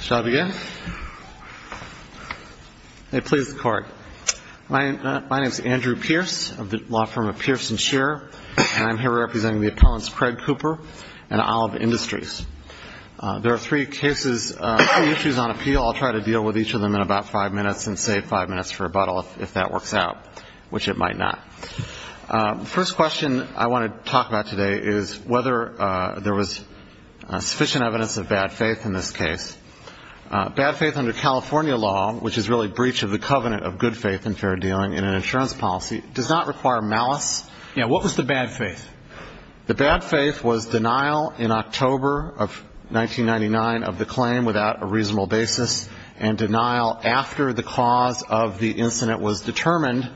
Shall I begin? May it please the Court. My name is Andrew Pierce of the law firm of Pierce and Scherer, and I'm here representing the appellants Craig Cooper and Olive Industries. There are three cases, two issues on appeal. I'll try to deal with each of them in about five minutes and save five minutes for rebuttal if that works out, which it might not. The first question I want to talk about today is whether there was sufficient evidence of bad faith in this case. Bad faith under California law, which is really breach of the covenant of good faith and fair dealing in an insurance policy, does not require malice. Yeah, what was the bad faith? The bad faith was denial in October of 1999 of the claim without a reasonable basis and denial after the cause of the incident was determined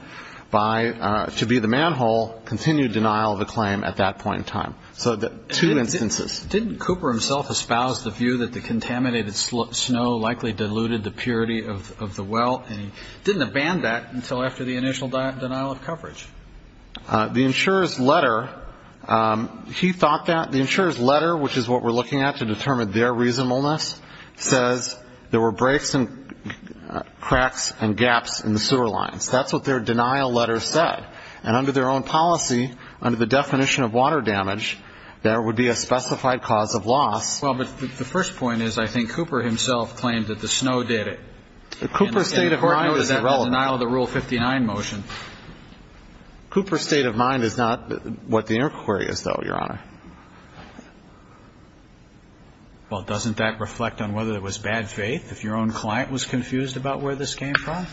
by, to be the manhole, continued denial of the claim at that point in time. So two instances. Didn't Cooper himself espouse the view that the contaminated snow likely diluted the purity of the well, and he didn't abandon that until after the initial denial of coverage? The insurer's letter, he thought that the insurer's letter, which is what we're looking at to determine their reasonableness, says there were breaks and cracks and gaps in the sewer lines. That's what their denial letter said. And under their own policy, under the definition of water damage, there would be a specified cause of loss. Well, but the first point is I think Cooper himself claimed that the snow did it. Cooper's state of mind is irrelevant. And the court noted that denial of the Rule 59 motion. Cooper's state of mind is not what the inquiry is, though, Your Honor. Well, doesn't that reflect on whether there was bad faith, if your own client was confused about where this was coming from,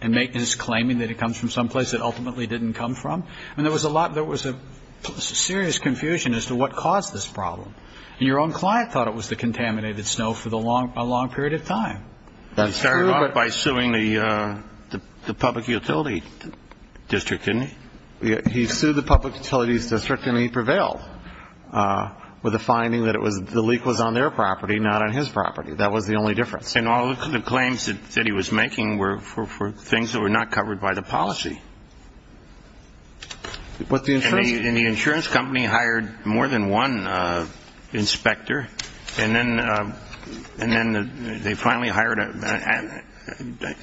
and it was claiming that it comes from someplace it ultimately didn't come from? I mean, there was a lot there was a serious confusion as to what caused this problem. And your own client thought it was the contaminated snow for the long, long period of time. That's true. By suing the public utility district. And he sued the public utilities district, and he prevailed with a finding that it was the leak was on their property, not on his property. That was the only difference. And all the claims that he was making were for things that were not covered by the policy. And the insurance company hired more than one inspector. And then they finally hired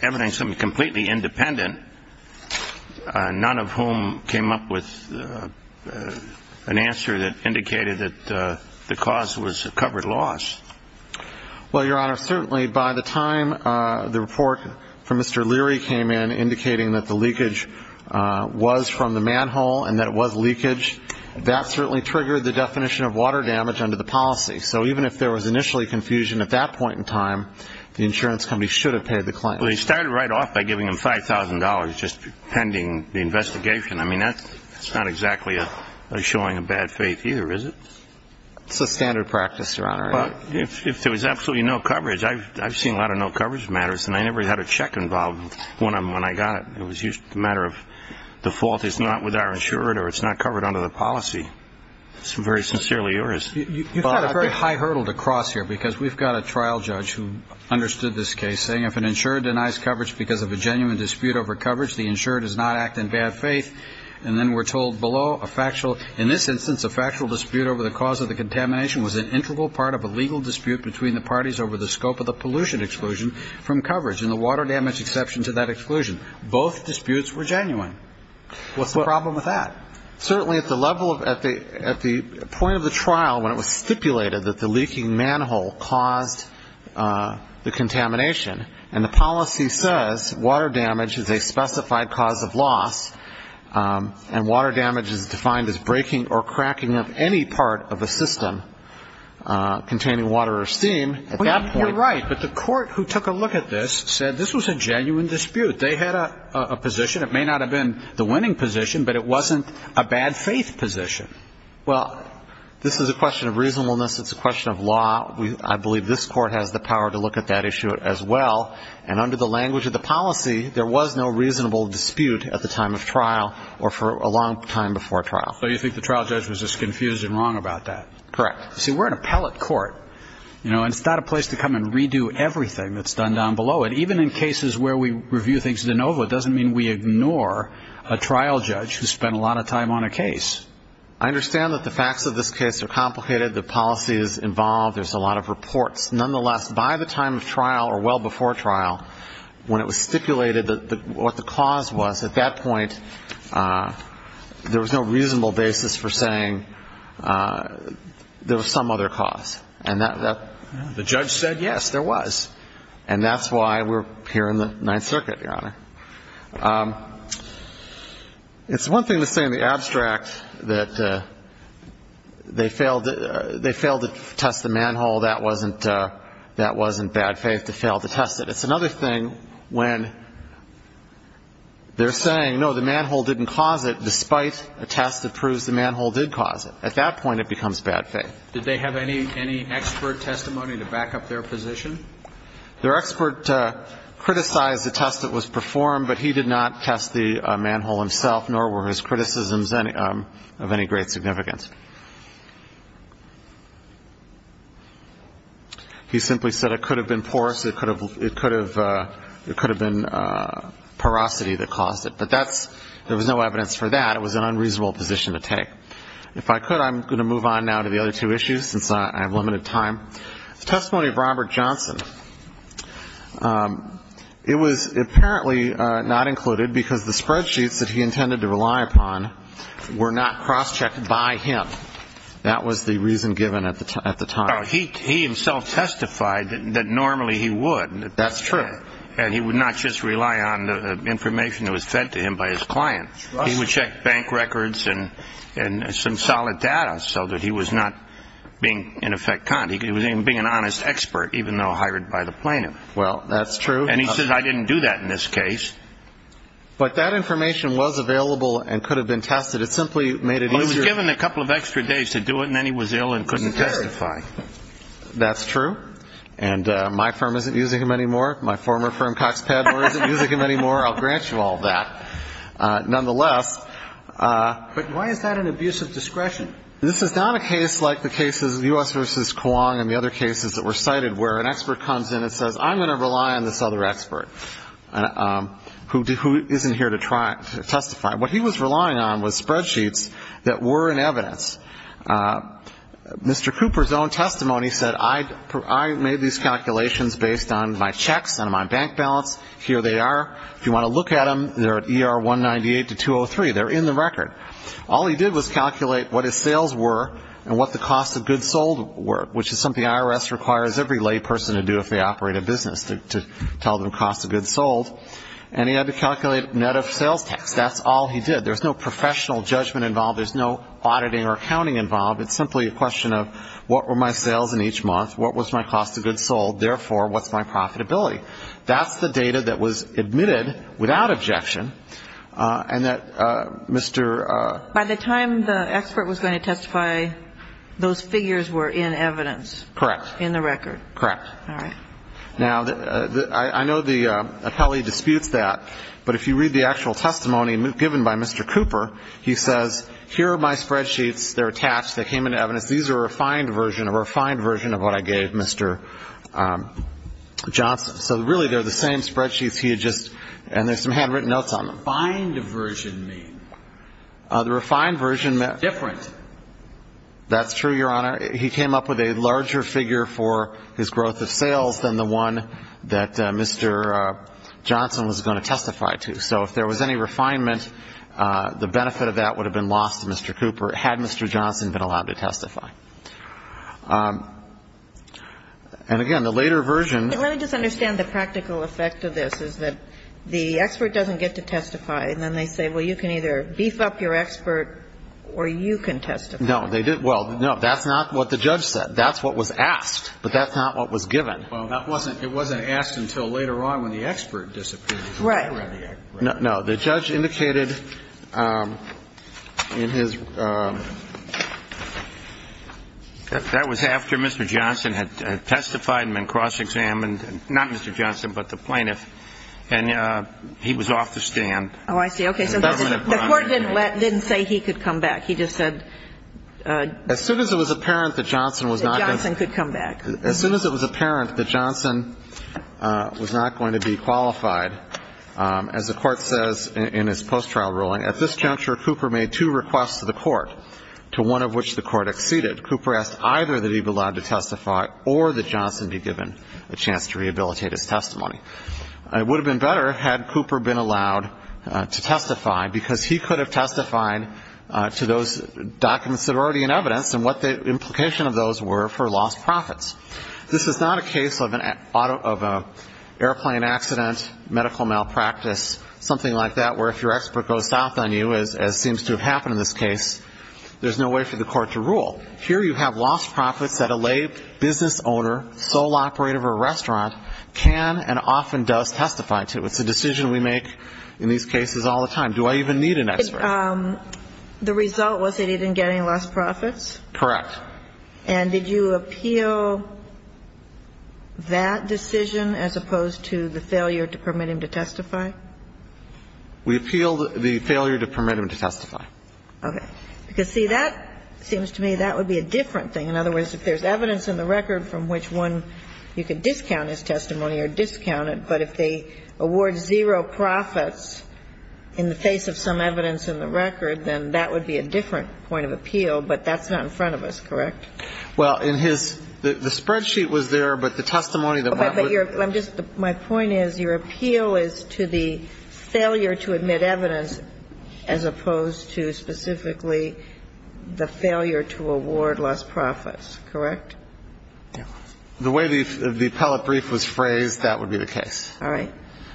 evidence of something completely independent, none of whom came up with an answer that indicated that the cause was covered loss. Well, Your Honor, certainly by the time the report from Mr. Leary came in indicating that the leakage was from the manhole and that it was leakage, that certainly triggered the definition of water damage under the policy. So even if there was initially confusion at that point in time, the insurance company should have paid the claim. Well, they started right off by giving him $5,000 just pending the investigation. I mean, that's not exactly showing a bad faith either, is it? It's a standard practice, Your Honor. Well, if there was absolutely no coverage, I've seen a lot of no coverage matters, and I never had a check involved when I got it. It was a matter of the fault is not with our insurer or it's not covered under the policy. It's very sincerely yours. You've got a very high hurdle to cross here because we've got a trial judge who understood this case, saying if an insurer denies coverage because of a genuine dispute over coverage, the insurer does not act in bad faith. And then we're told below, in this instance, a factual dispute over the cause of the contamination was an integral part of a legal dispute between the parties over the scope of the pollution exclusion from coverage and the water damage exception to that exclusion. Both disputes were genuine. What's the problem with that? Certainly at the point of the trial when it was stipulated that the leaking manhole caused the contamination, and the policy says water damage is a specified cause of loss, and water damage is defined as breaking or cracking up any part of a system containing water or steam at that point. You're right, but the court who took a look at this said this was a genuine dispute. They had a position. It may not have been the winning position, but it wasn't a bad faith position. Well, this is a question of reasonableness. It's a question of law. I believe this court has the power to look at that issue as well, and under the language of the policy, there was no reasonable dispute at the time of trial or for a long time before trial. So you think the trial judge was just confused and wrong about that? Correct. See, we're an appellate court, and it's not a place to come and redo everything that's done down below it. Even in cases where we review things de novo, it doesn't mean we ignore a trial judge who spent a lot of time on a case. I understand that the facts of this case are complicated. The policy is involved. There's a lot of reports. Nonetheless, by the time of trial or well before trial, when it was stipulated what the cause was, at that point there was no reasonable basis for saying there was some other cause. The judge said, yes, there was, and that's why we're here in the Ninth Circuit, Your Honor. It's one thing to say in the abstract that they failed to test the manhole. That wasn't bad faith to fail to test it. It's another thing when they're saying, no, the manhole didn't cause it, despite a test that proves the manhole did cause it. At that point, it becomes bad faith. Did they have any expert testimony to back up their position? Their expert criticized the test that was performed, but he did not test the manhole himself, nor were his criticisms of any great significance. He simply said it could have been porous, it could have been porosity that caused it, but there was no evidence for that. It was an unreasonable position to take. If I could, I'm going to move on now to the other two issues since I have limited time. The testimony of Robert Johnson, it was apparently not included because the spreadsheets that he intended to rely upon were not cross-checked by him. That was the reason given at the time. He himself testified that normally he would. That's true. And he would not just rely on the information that was fed to him by his client. He would check bank records and some solid data so that he was not being, in effect, conned. He was being an honest expert, even though hired by the plaintiff. Well, that's true. And he said, I didn't do that in this case. But that information was available and could have been tested. It simply made it easier. Well, he was given a couple of extra days to do it, and then he was ill and couldn't testify. That's true. And my firm isn't using him anymore. My former firm, Cox Padmore, isn't using him anymore. I'll grant you all that nonetheless. But why is that an abuse of discretion? This is not a case like the cases of U.S. v. Kuang and the other cases that were cited where an expert comes in and says, I'm going to rely on this other expert who isn't here to testify. What he was relying on was spreadsheets that were in evidence. Mr. Cooper's own testimony said, I made these calculations based on my checks and my bank balance. Here they are. If you want to look at them, they're at ER 198 to 203. They're in the record. All he did was calculate what his sales were and what the cost of goods sold were, which is something IRS requires every layperson to do if they operate a business, to tell them cost of goods sold. And he had to calculate net of sales tax. That's all he did. There's no professional judgment involved. There's no auditing or accounting involved. It's simply a question of what were my sales in each month, what was my cost of goods sold, therefore what's my profitability. That's the data that was admitted without objection, and that Mr. By the time the expert was going to testify, those figures were in evidence. Correct. In the record. Correct. All right. Now, I know the appellee disputes that, but if you read the actual testimony given by Mr. Cooper, he says, here are my spreadsheets. They're attached. They came in evidence. These are a refined version, a refined version of what I gave Mr. Johnson. So, really, they're the same spreadsheets he had just, and there's some handwritten notes on them. What does the refined version mean? The refined version meant. Different. That's true, Your Honor. He came up with a larger figure for his growth of sales than the one that Mr. Johnson was going to testify to. So if there was any refinement, the benefit of that would have been lost to Mr. Cooper had Mr. Johnson been allowed to testify. And, again, the later version. Let me just understand the practical effect of this, is that the expert doesn't get to testify and then they say, well, you can either beef up your expert or you can testify. No, they didn't. Well, no, that's not what the judge said. That's what was asked, but that's not what was given. Well, that wasn't, it wasn't asked until later on when the expert disappeared. Right. No, the judge indicated in his, that was after Mr. Johnson had testified and been cross-examined. Not Mr. Johnson, but the plaintiff. And he was off the stand. Oh, I see. Okay. So the court didn't let, didn't say he could come back. He just said. As soon as it was apparent that Johnson was not going to. That Johnson could come back. As soon as it was apparent that Johnson was not going to be qualified, as the court says in his post-trial ruling, at this juncture, Cooper made two requests to the court, to one of which the court acceded. Cooper asked either that he be allowed to testify or that Johnson be given a chance to rehabilitate his testimony. It would have been better had Cooper been allowed to testify, because he could have testified to those documents that are already in evidence and what the implication of those were for lost profits. This is not a case of an auto, of an airplane accident, medical malpractice, something like that, where if your expert goes south on you, as seems to have happened in this case, there's no way for the court to rule. Here you have lost profits that a lay business owner, sole operator of a restaurant can and often does testify to. It's a decision we make in these cases all the time. Do I even need an expert? The result was that he didn't get any lost profits? Correct. And did you appeal that decision as opposed to the failure to permit him to testify? We appealed the failure to permit him to testify. Okay. Because, see, that seems to me that would be a different thing. In other words, if there's evidence in the record from which one you could discount his testimony or discount it, but if they award zero profits in the face of some evidence in the record, then that would be a different point of appeal, but that's not in front of us, correct? Well, in his – the spreadsheet was there, but the testimony that one would – My point is your appeal is to the failure to admit evidence as opposed to specifically the failure to award lost profits, correct? Yeah. The way the appellate brief was phrased, that would be the case. All right.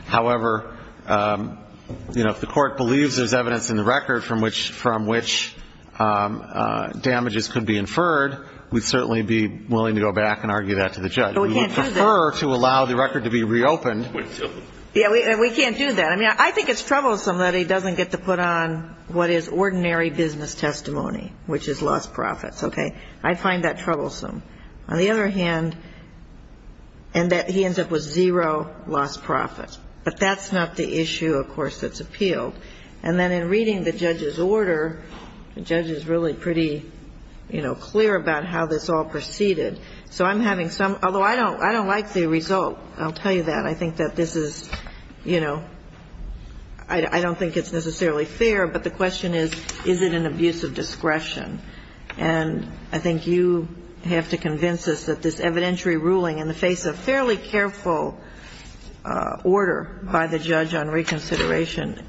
However, you know, if the court believes there's evidence in the record from which damages could be inferred, we'd certainly be willing to go back and argue that to the judge. But we can't do that. We would prefer to allow the record to be reopened. Yeah. We can't do that. I mean, I think it's troublesome that he doesn't get to put on what is ordinary business testimony, which is lost profits. Okay. I find that troublesome. On the other hand, and that he ends up with zero lost profits. But that's not the issue, of course, that's appealed. And then in reading the judge's order, the judge is really pretty, you know, clear about how this all proceeded. So I'm having some, although I don't like the result, I'll tell you that. I think that this is, you know, I don't think it's necessarily fair, but the question is, is it an abuse of discretion? And I think you have to convince us that this evidentiary ruling in the face of fairly careful order by the judge on reconsideration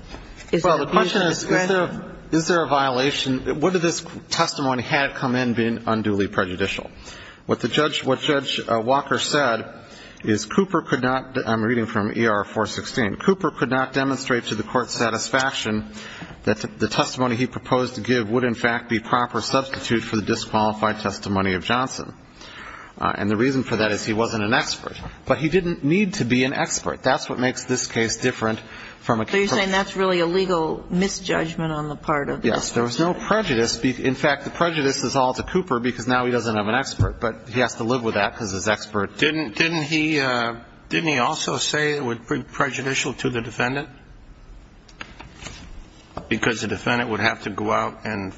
is an abuse of discretion. Well, the question is, is there a violation? What if this testimony had come in being unduly prejudicial? What the judge, what Judge Walker said is Cooper could not, I'm reading from ER-416, Cooper could not demonstrate to the court's satisfaction that the testimony he proposed to give would in fact be proper substitute for the disqualified testimony of Johnson. And the reason for that is he wasn't an expert. But he didn't need to be an expert. That's what makes this case different from a Cooper. So you're saying that's really a legal misjudgment on the part of the judge? There was no prejudice. In fact, the prejudice is all to Cooper because now he doesn't have an expert. But he has to live with that because his expert. Didn't he also say it would be prejudicial to the defendant? Because the defendant would have to go out and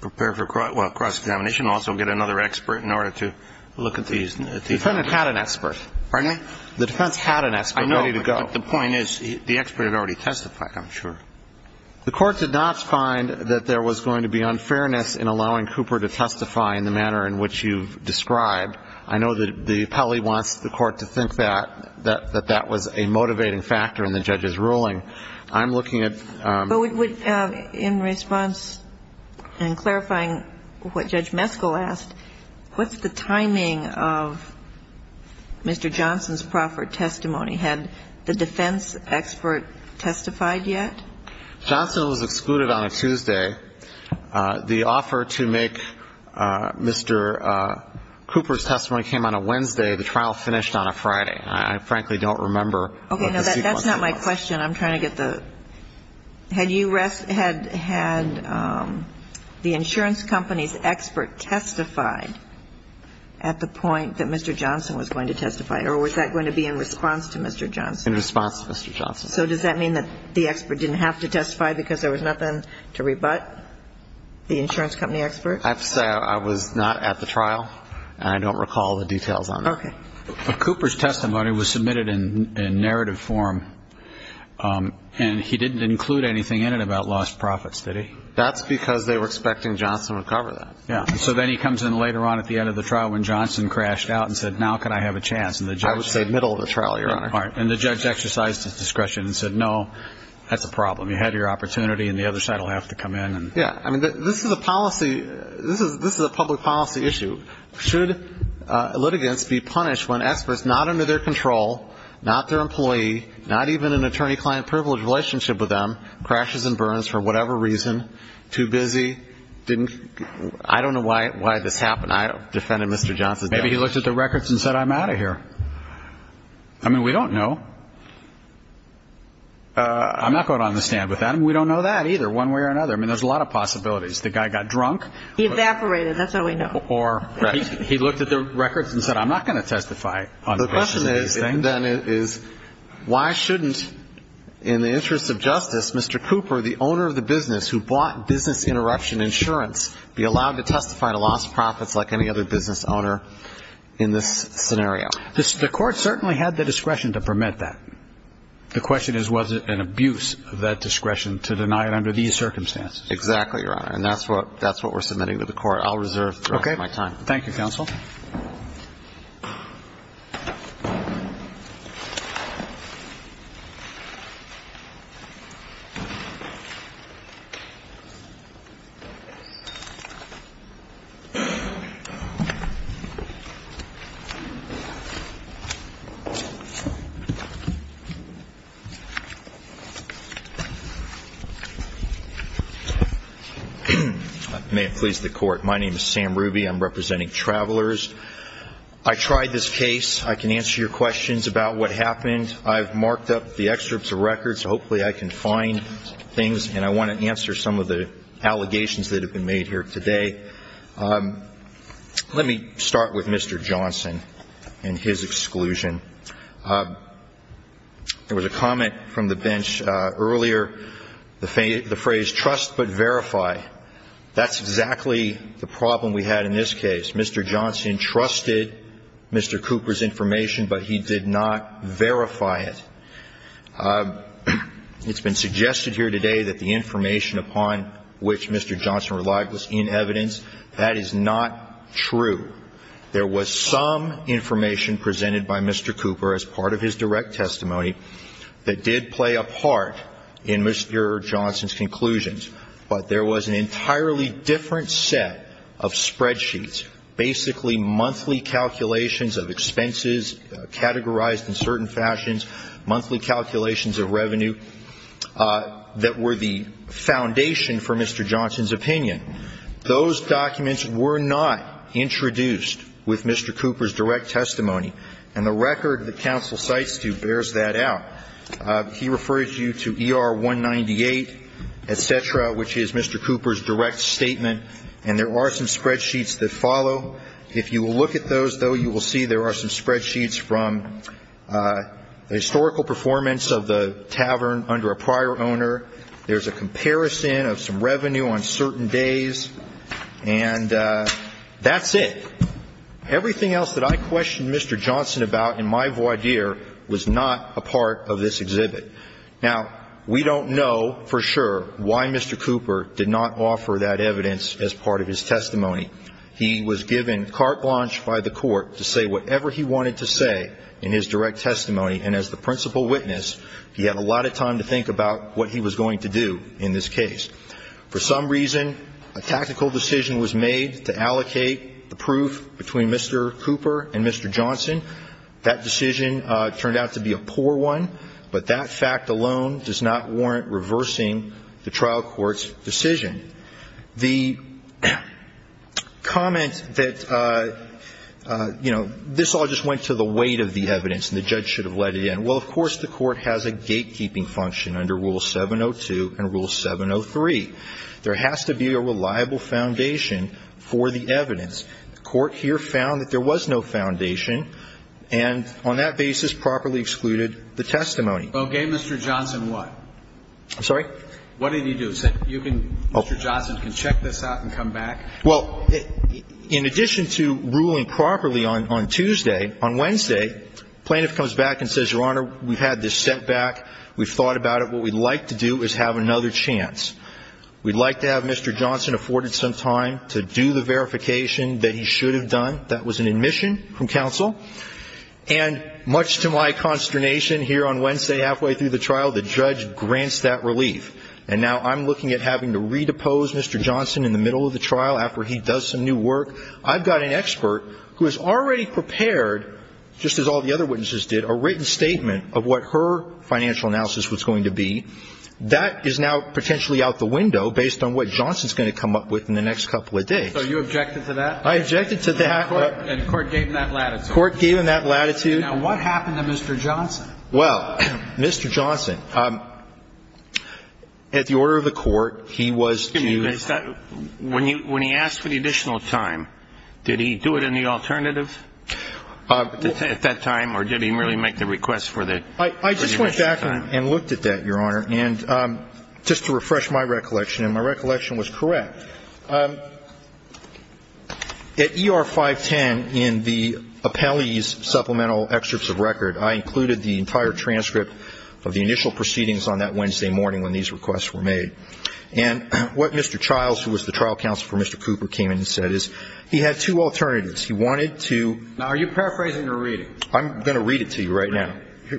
prepare for cross-examination and also get another expert in order to look at these. The defendant had an expert. Pardon me? The defense had an expert ready to go. I know, but the point is the expert had already testified, I'm sure. The Court did not find that there was going to be unfairness in allowing Cooper to testify in the manner in which you've described. I know that the appellee wants the Court to think that, that that was a motivating factor in the judge's ruling. I'm looking at the... But in response and clarifying what Judge Meskel asked, what's the timing of Mr. Johnson's proper testimony? Had the defense expert testified yet? Johnson was excluded on a Tuesday. The offer to make Mr. Cooper's testimony came on a Wednesday. The trial finished on a Friday. And I frankly don't remember what the sequence was. Okay. No, that's not my question. I'm trying to get the... Had you had the insurance company's expert testified at the point that Mr. Johnson was going to testify, or was that going to be in response to Mr. Johnson? In response to Mr. Johnson. So does that mean that the expert didn't have to testify because there was nothing to rebut the insurance company expert? I have to say I was not at the trial, and I don't recall the details on that. Okay. Cooper's testimony was submitted in narrative form, and he didn't include anything in it about lost profits, did he? That's because they were expecting Johnson would cover that. Yeah. So then he comes in later on at the end of the trial when Johnson crashed out and said, now can I have a chance? I would say middle of the trial, Your Honor. And the judge exercised his discretion and said, no, that's a problem. You had your opportunity, and the other side will have to come in. Yeah. I mean, this is a policy issue. Should litigants be punished when experts not under their control, not their employee, not even an attorney-client privilege relationship with them, crashes and burns for whatever reason, too busy, didn't... I don't know why this happened. I defended Mr. Johnson. Maybe he looked at the records and said, I'm out of here. I mean, we don't know. I'm not going to understand with that. I mean, we don't know that either, one way or another. I mean, there's a lot of possibilities. The guy got drunk. He evaporated. That's all we know. Or he looked at the records and said, I'm not going to testify on the basis of these things. The question then is, why shouldn't, in the interest of justice, Mr. Cooper, the owner of the business who bought business interruption insurance, be allowed to testify to lost profits like any other business owner in this scenario? The court certainly had the discretion to permit that. The question is, was it an abuse of that discretion to deny it under these circumstances? Exactly, Your Honor. And that's what we're submitting to the court. I'll reserve the rest of my time. Okay. Thank you, counsel. May it please the Court. My name is Sam Ruby. I'm representing Travelers. I tried this case. I can answer your questions about what happened. I've marked up the excerpts of records so hopefully I can find things, and I want to answer some of the allegations that have been made here today. Let me start with Mr. Johnson and his exclusion. There was a comment from the bench earlier, the phrase, trust but verify. That's exactly the problem we had in this case. Mr. Johnson trusted Mr. Cooper's information, but he did not verify it. It's been suggested here today that the information upon which Mr. Johnson relied was in evidence. That is not true. There was some information presented by Mr. Cooper as part of his direct testimony that did play a part in Mr. Johnson's conclusions, but there was an entirely different set of spreadsheets, basically monthly calculations of expenses categorized in certain fashions, monthly calculations of revenue that were the foundation for Mr. Johnson's opinion. Those documents were not introduced with Mr. Cooper's direct testimony, and the record that counsel cites to bears that out. He refers you to ER 198, et cetera, which is Mr. Cooper's direct statement, and there are some spreadsheets that follow. If you look at those, though, you will see there are some spreadsheets from the historical performance of the tavern under a prior owner. There's a comparison of some revenue on certain days, and that's it. Everything else that I questioned Mr. Johnson about in my voir dire was not a part of this exhibit. Now, we don't know for sure why Mr. Cooper did not offer that evidence as part of his testimony. He was given carte blanche by the Court to say whatever he wanted to say in his direct testimony, and as the principal witness, he had a lot of time to think about what he was going to do in this case. For some reason, a tactical decision was made to allocate the proof between Mr. Cooper and Mr. Johnson. That decision turned out to be a poor one, but that fact alone does not warrant reversing the trial court's decision. The comment that, you know, this all just went to the weight of the evidence and the judge should have let it in, well, of course the Court has a gatekeeping function under Rule 702 and Rule 703. There has to be a reliable foundation for the evidence. The Court here found that there was no foundation, and on that basis properly excluded the testimony. Well, gave Mr. Johnson what? I'm sorry? What did he do? You can – Mr. Johnson can check this out and come back. Well, in addition to ruling properly on Tuesday, on Wednesday, the plaintiff comes back and says, Your Honor, we've had this set back. We've thought about it. What we'd like to do is have another chance. We'd like to have Mr. Johnson afforded some time to do the verification that he should have done. That was an admission from counsel. And much to my consternation, here on Wednesday halfway through the trial, the judge grants that relief. And now I'm looking at having to redepose Mr. Johnson in the middle of the trial after he does some new work. I've got an expert who has already prepared, just as all the other witnesses did, a written statement of what her financial analysis was going to be. That is now potentially out the window based on what Johnson's going to come up with in the next couple of days. So you objected to that? I objected to that. And the Court gave him that latitude. The Court gave him that latitude. Now, what happened to Mr. Johnson? Well, Mr. Johnson, at the order of the Court, he was due to ---- Excuse me. When he asked for the additional time, did he do it in the alternative at that time, or did he merely make the request for the rest of the time? I just went back and looked at that, Your Honor, just to refresh my recollection. And my recollection was correct. At ER 510, in the appellee's supplemental excerpts of record, I included the entire transcript of the initial proceedings on that Wednesday morning when these requests were made. And what Mr. Childs, who was the trial counsel for Mr. Cooper, came in and said is he had two alternatives. He wanted to ---- Now, are you paraphrasing or reading? I'm going to read it to you right now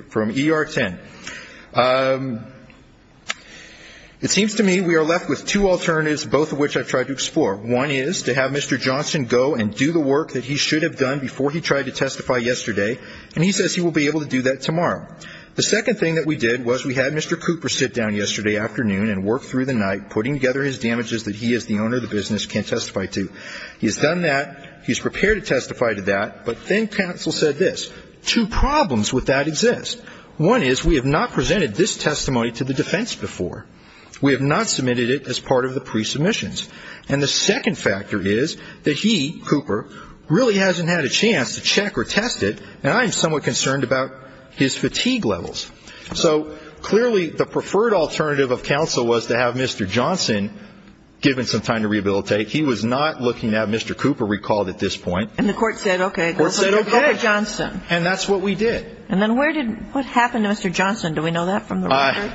from ER 10. It seems to me we are left with two alternatives, both of which I've tried to explore. One is to have Mr. Johnson go and do the work that he should have done before he tried to testify yesterday, and he says he will be able to do that tomorrow. The second thing that we did was we had Mr. Cooper sit down yesterday afternoon and work through the night, putting together his damages that he as the owner of the business can testify to. He's done that. He's prepared to testify to that. But then counsel said this. Two problems with that exist. One is we have not presented this testimony to the defense before. We have not submitted it as part of the pre-submissions. And the second factor is that he, Cooper, really hasn't had a chance to check or test it, and I am somewhat concerned about his fatigue levels. So clearly the preferred alternative of counsel was to have Mr. Johnson given some time to rehabilitate. He was not looking at Mr. Cooper recalled at this point. And the court said, okay, go for Johnson. And that's what we did. And then what happened to Mr. Johnson? Do we know that from the record?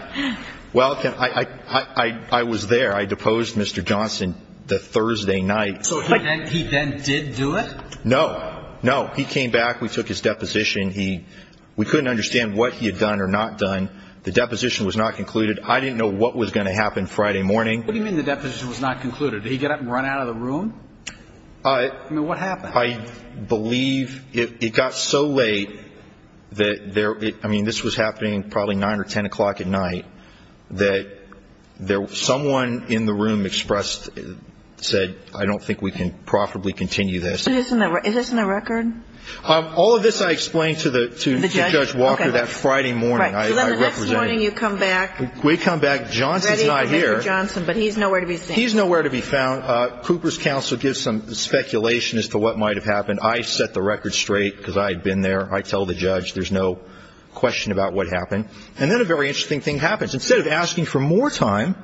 Well, I was there. I deposed Mr. Johnson the Thursday night. So he then did do it? No. No. He came back. We took his deposition. We couldn't understand what he had done or not done. The deposition was not concluded. I didn't know what was going to happen Friday morning. What do you mean the deposition was not concluded? Did he get up and run out of the room? I mean, what happened? I believe it got so late that there was ‑‑ I mean, this was happening probably 9 or 10 o'clock at night, that someone in the room expressed, said, I don't think we can profitably continue this. Is this in the record? All of this I explained to Judge Walker that Friday morning. Right. So then the next morning you come back. We come back. Johnson's not here. Ready for Mr. Johnson, but he's nowhere to be seen. He's nowhere to be found. Now Cooper's counsel gives some speculation as to what might have happened. I set the record straight because I had been there. I tell the judge there's no question about what happened. And then a very interesting thing happens. Instead of asking for more time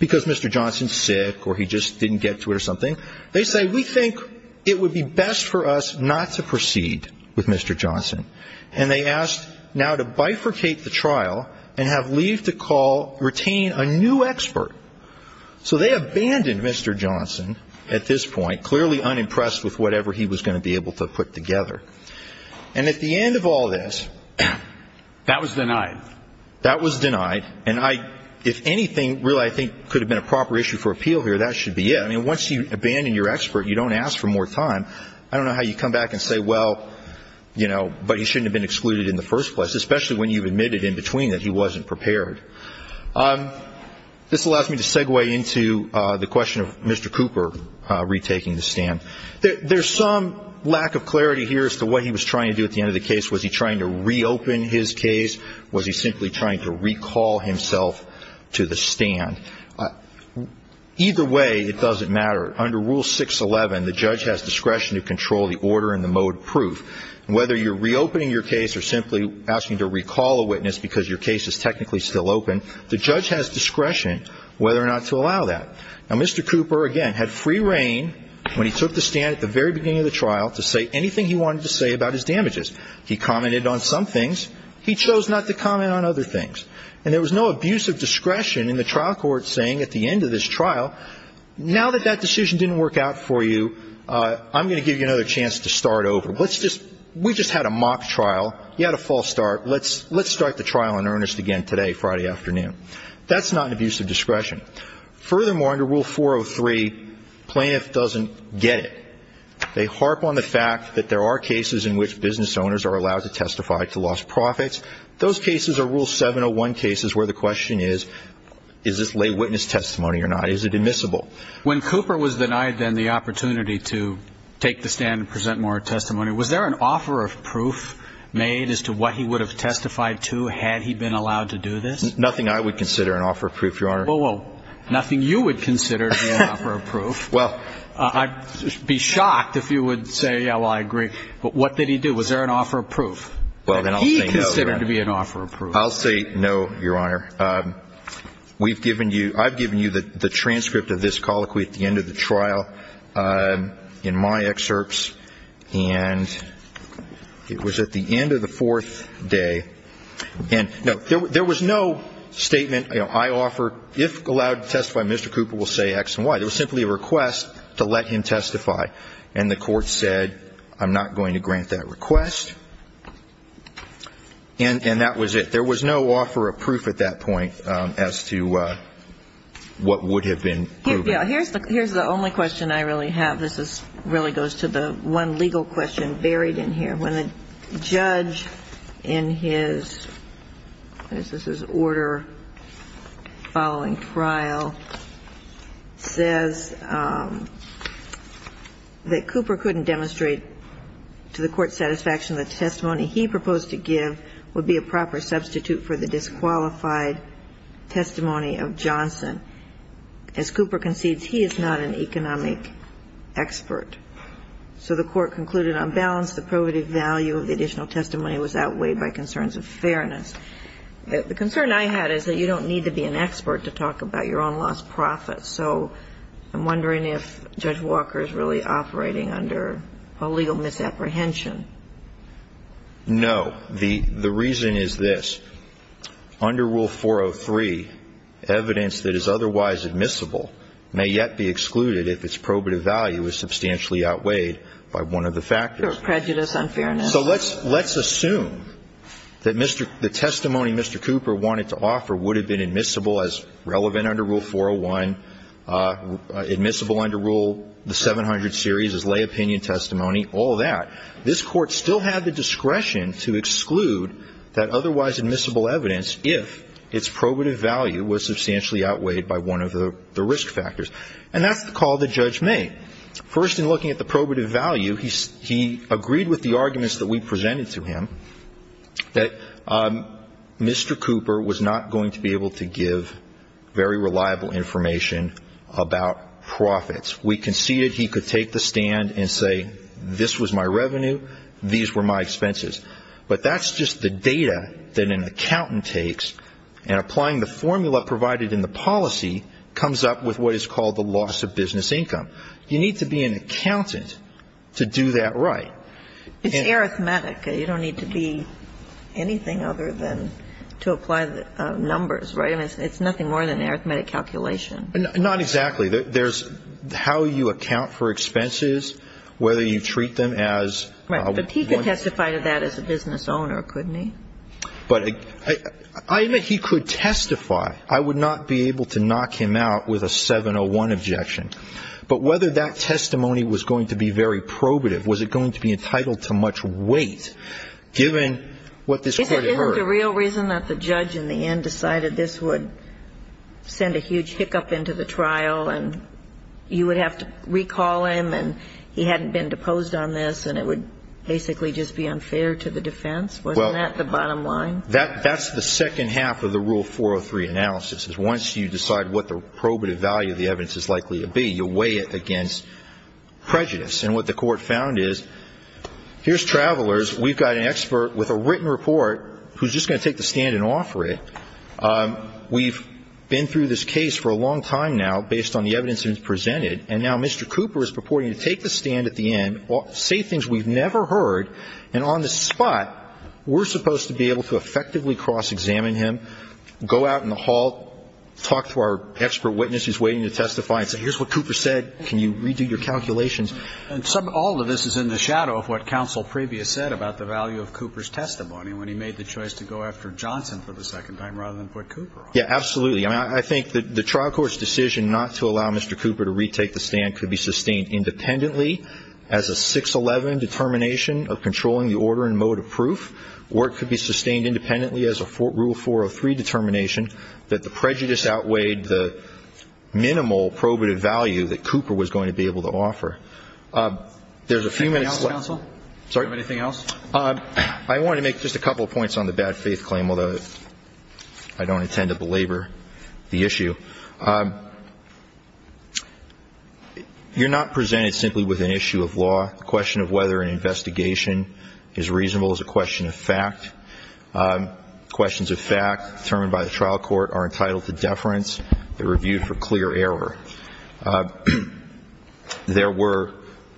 because Mr. Johnson's sick or he just didn't get to it or something, they say we think it would be best for us not to proceed with Mr. Johnson. And they ask now to bifurcate the trial and have leave to call, retain a new expert. So they abandoned Mr. Johnson at this point, clearly unimpressed with whatever he was going to be able to put together. And at the end of all this. That was denied. That was denied. And I, if anything, really I think could have been a proper issue for appeal here, that should be it. I mean, once you abandon your expert, you don't ask for more time. I don't know how you come back and say, well, you know, but he shouldn't have been excluded in the first place, especially when you've admitted in between that he wasn't prepared. This allows me to segue into the question of Mr. Cooper retaking the stand. There's some lack of clarity here as to what he was trying to do at the end of the case. Was he trying to reopen his case? Was he simply trying to recall himself to the stand? Either way, it doesn't matter. Under Rule 611, the judge has discretion to control the order and the mode of proof. Whether you're reopening your case or simply asking to recall a witness because your case is technically still open, the judge has discretion whether or not to allow that. Now, Mr. Cooper, again, had free reign when he took the stand at the very beginning of the trial to say anything he wanted to say about his damages. He commented on some things. He chose not to comment on other things. And there was no abuse of discretion in the trial court saying at the end of this trial, now that that decision didn't work out for you, I'm going to give you another chance to start over. We just had a mock trial. You had a false start. Let's start the trial in earnest again today, Friday afternoon. That's not an abuse of discretion. Furthermore, under Rule 403, plaintiff doesn't get it. They harp on the fact that there are cases in which business owners are allowed to testify to lost profits. Those cases are Rule 701 cases where the question is, is this lay witness testimony or not? Is it admissible? When Cooper was denied then the opportunity to take the stand and present more testimony, was there an offer of proof made as to what he would have testified to had he been allowed to do this? Nothing I would consider an offer of proof, Your Honor. Well, nothing you would consider to be an offer of proof. Well. I'd be shocked if you would say, yeah, well, I agree. But what did he do? Was there an offer of proof that he considered to be an offer of proof? I'll say no, Your Honor. We've given you, I've given you the transcript of this colloquy at the end of the trial in my excerpts. And it was at the end of the fourth day. And there was no statement, you know, I offer, if allowed to testify, Mr. Cooper will say X and Y. It was simply a request to let him testify. And the court said, I'm not going to grant that request. And that was it. There was no offer of proof at that point as to what would have been proven. Yeah. Here's the only question I really have. This really goes to the one legal question buried in here. When the judge in his, what is this, his order following trial, says that Cooper couldn't demonstrate to the court's satisfaction that the testimony he proposed to give would be a proper substitute for the disqualified testimony of Johnson. As Cooper concedes, he is not an economic expert. So the court concluded, on balance, the probative value of the additional testimony was outweighed by concerns of fairness. The concern I had is that you don't need to be an expert to talk about your own lost profits. So I'm wondering if Judge Walker is really operating under a legal misapprehension. No. The reason is this. Under Rule 403, evidence that is otherwise admissible may yet be excluded if its probative value is substantially outweighed by one of the factors. Prejudice on fairness. So let's assume that the testimony Mr. Cooper wanted to offer would have been admissible as relevant under Rule 401, admissible under Rule 700 series as lay opinion testimony, all that. This Court still had the discretion to exclude that otherwise admissible evidence if its probative value was substantially outweighed by one of the risk factors. And that's the call the judge made. First, in looking at the probative value, he agreed with the arguments that we presented to him that Mr. Cooper was not going to be able to give very reliable information about profits. We conceded he could take the stand and say, this was my revenue, these were my expenses. But that's just the data that an accountant takes, and applying the formula provided in the policy comes up with what is called the loss of business income. You need to be an accountant to do that right. It's arithmetic. You don't need to be anything other than to apply the numbers, right? I mean, it's nothing more than arithmetic calculation. Not exactly. There's how you account for expenses, whether you treat them as one. Right. But he could testify to that as a business owner, couldn't he? But I admit he could testify. I would not be able to knock him out with a 701 objection. But whether that testimony was going to be very probative, was it going to be entitled to much weight, given what this court heard? Isn't the real reason that the judge in the end decided this would send a huge hiccup into the trial and you would have to recall him and he hadn't been deposed on this and it would basically just be unfair to the defense? Wasn't that the bottom line? That's the second half of the Rule 403 analysis, is once you decide what the probative value of the evidence is likely to be, you weigh it against prejudice. And what the court found is, here's travelers. We've got an expert with a written report who's just going to take the stand and offer it. We've been through this case for a long time now based on the evidence that was presented, and now Mr. Cooper is purporting to take the stand at the end, say things we've never heard, and on the spot, we're supposed to be able to effectively cross-examine him, go out in the hall, talk to our expert witness who's waiting to testify and say, here's what Cooper said. Can you redo your calculations? And all of this is in the shadow of what counsel previous said about the value of Cooper's testimony when he made the choice to go after Johnson for the second time rather than put Cooper on. Yeah, absolutely. I think the trial court's decision not to allow Mr. Cooper to retake the stand could be sustained independently as a 611 determination of controlling the order and mode of proof, or it could be sustained independently as a rule 403 determination that the prejudice outweighed the minimal probative value that Cooper was going to be able to offer. There's a few minutes left. Anything else, counsel? Sorry? Do you have anything else? I wanted to make just a couple of points on the bad faith claim, although I don't intend to belabor the issue. You're not presented simply with an issue of law. The question of whether an investigation is reasonable is a question of fact. Questions of fact determined by the trial court are entitled to deference. They're reviewed for clear error. There were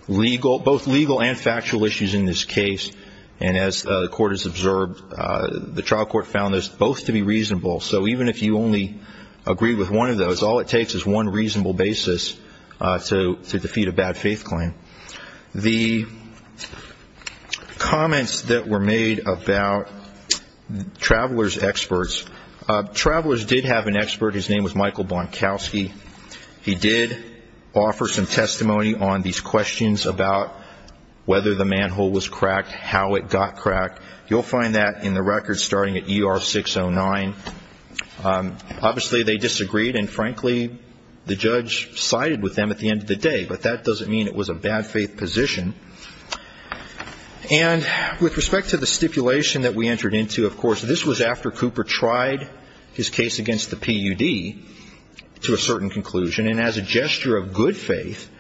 both legal and factual issues in this case, and as the court has observed, the trial court found those both to be reasonable. So even if you only agree with one of those, all it takes is one reasonable basis to defeat a bad faith claim. The comments that were made about travelers' experts, travelers did have an expert. His name was Michael Bonkowski. He did offer some testimony on these questions about whether the manhole was cracked, how it got cracked. You'll find that in the records starting at ER 609. Obviously, they disagreed, and frankly, the judge sided with them at the end of the day, but that doesn't mean it was a bad faith position. And with respect to the stipulation that we entered into, of course, this was after Cooper tried his case against the PUD to a certain conclusion, and as a gesture of good faith,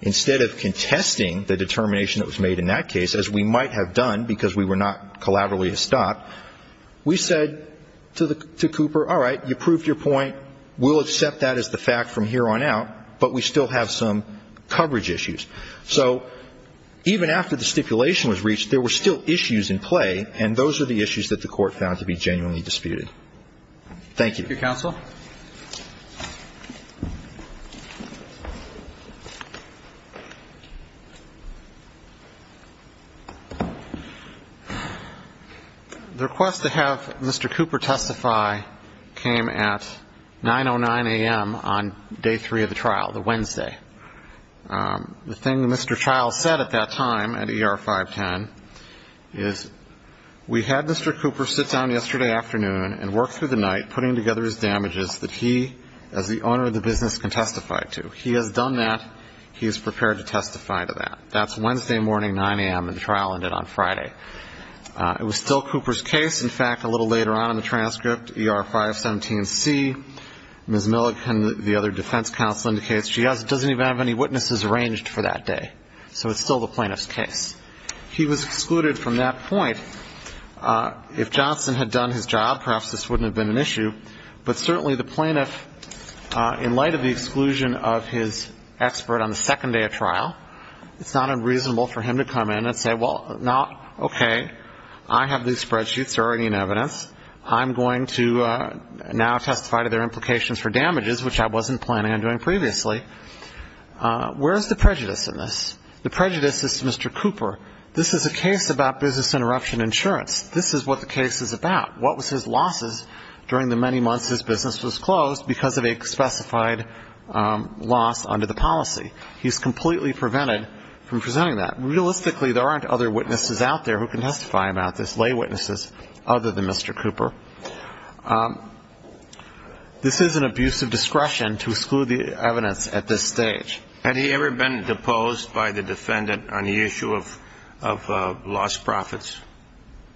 instead of contesting the determination that was made in that case, as we might have done because we were not collaterally a stop, we said to Cooper, all right, you proved your point. We'll accept that as the fact from here on out, but we still have some coverage issues. So even after the stipulation was reached, there were still issues in play, and those are the issues that the court found to be genuinely disputed. Thank you. Thank you, counsel. The request to have Mr. Cooper testify came at 9.09 a.m. on day three of the trial, the Wednesday. The thing Mr. Child said at that time at ER 510 is, we had Mr. Cooper sit down yesterday afternoon and work through the night putting together his damages that he, as the owner of the business, can testify to. He has done that. He is prepared to testify to that. That's Wednesday morning, 9 a.m., and the trial ended on Friday. It was still Cooper's case. In fact, a little later on in the transcript, ER 517C, Ms. Milligan, the other defense counsel indicates, she doesn't even have any witnesses arranged for that day. So it's still the plaintiff's case. He was excluded from that point. If Johnson had done his job, perhaps this wouldn't have been an issue, but certainly the plaintiff, in light of the exclusion of his expert on the second day of trial, it's not unreasonable for him to come in and say, well, now, okay, I have these spreadsheets, they're already in evidence, I'm going to now testify to their implications for damages, which I wasn't planning on doing previously. Where is the prejudice in this? The prejudice is to Mr. Cooper. This is a case about business interruption insurance. This is what the case is about. What was his losses during the many months his business was closed because of a specified loss under the policy? He's completely prevented from presenting that. Realistically, there aren't other witnesses out there who can testify about this, lay witnesses other than Mr. Cooper. This is an abuse of discretion to exclude the evidence at this stage. Had he ever been deposed by the defendant on the issue of lost profits?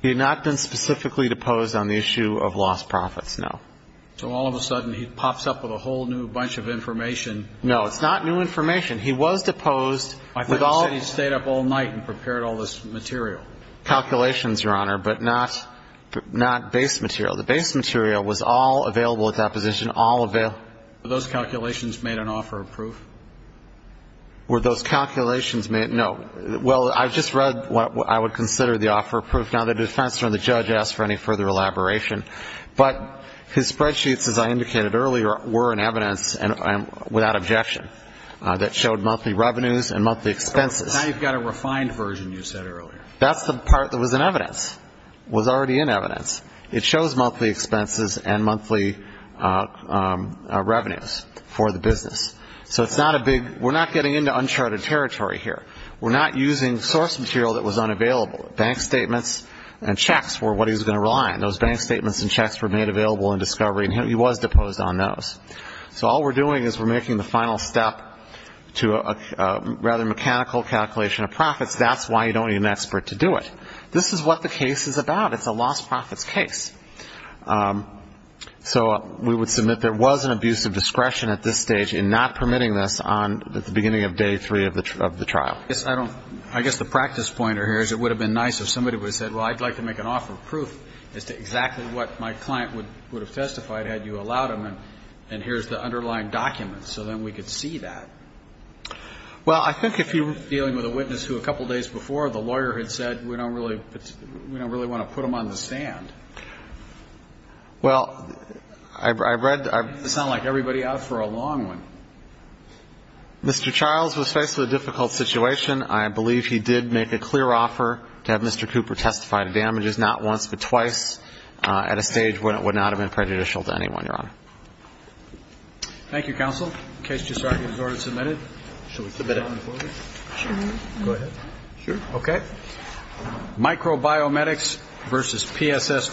He had not been specifically deposed on the issue of lost profits, no. So all of a sudden he pops up with a whole new bunch of information. No, it's not new information. He was deposed. I thought you said he stayed up all night and prepared all this material. Calculations, Your Honor, but not base material. The base material was all available at that position, all available. Were those calculations made on offer of proof? Were those calculations made? No. Well, I just read what I would consider the offer of proof. Now, the defense or the judge asked for any further elaboration. But his spreadsheets, as I indicated earlier, were an evidence, without objection, that showed monthly revenues and monthly expenses. Now you've got a refined version, you said earlier. That's the part that was in evidence, was already in evidence. It shows monthly expenses and monthly revenues for the business. So it's not a big we're not getting into uncharted territory here. We're not using source material that was unavailable. Bank statements and checks were what he was going to rely on. Those bank statements and checks were made available in discovery, and he was deposed on those. So all we're doing is we're making the final step to a rather mechanical calculation of profits. That's why you don't need an expert to do it. This is what the case is about. It's a lost profits case. So we would submit there was an abuse of discretion at this stage in not permitting this on the beginning of day three of the trial. Yes. I guess the practice pointer here is it would have been nice if somebody would have said, well, I'd like to make an offer of proof as to exactly what my client would have testified had you allowed him. And here's the underlying document. So then we could see that. Well, I think if you're dealing with a witness who a couple days before the lawyer had said, we don't really want to put him on the stand. Well, I've read. It sounds like everybody out for a long one. Mr. Charles was faced with a difficult situation. I believe he did make a clear offer to have Mr. Cooper testify to damages not once but twice at a stage where it would not have been prejudicial to anyone, Your Honor. Thank you, counsel. The case is already submitted. Go ahead. Sure. OK. Microbiometrics versus P.S.S. Thank you.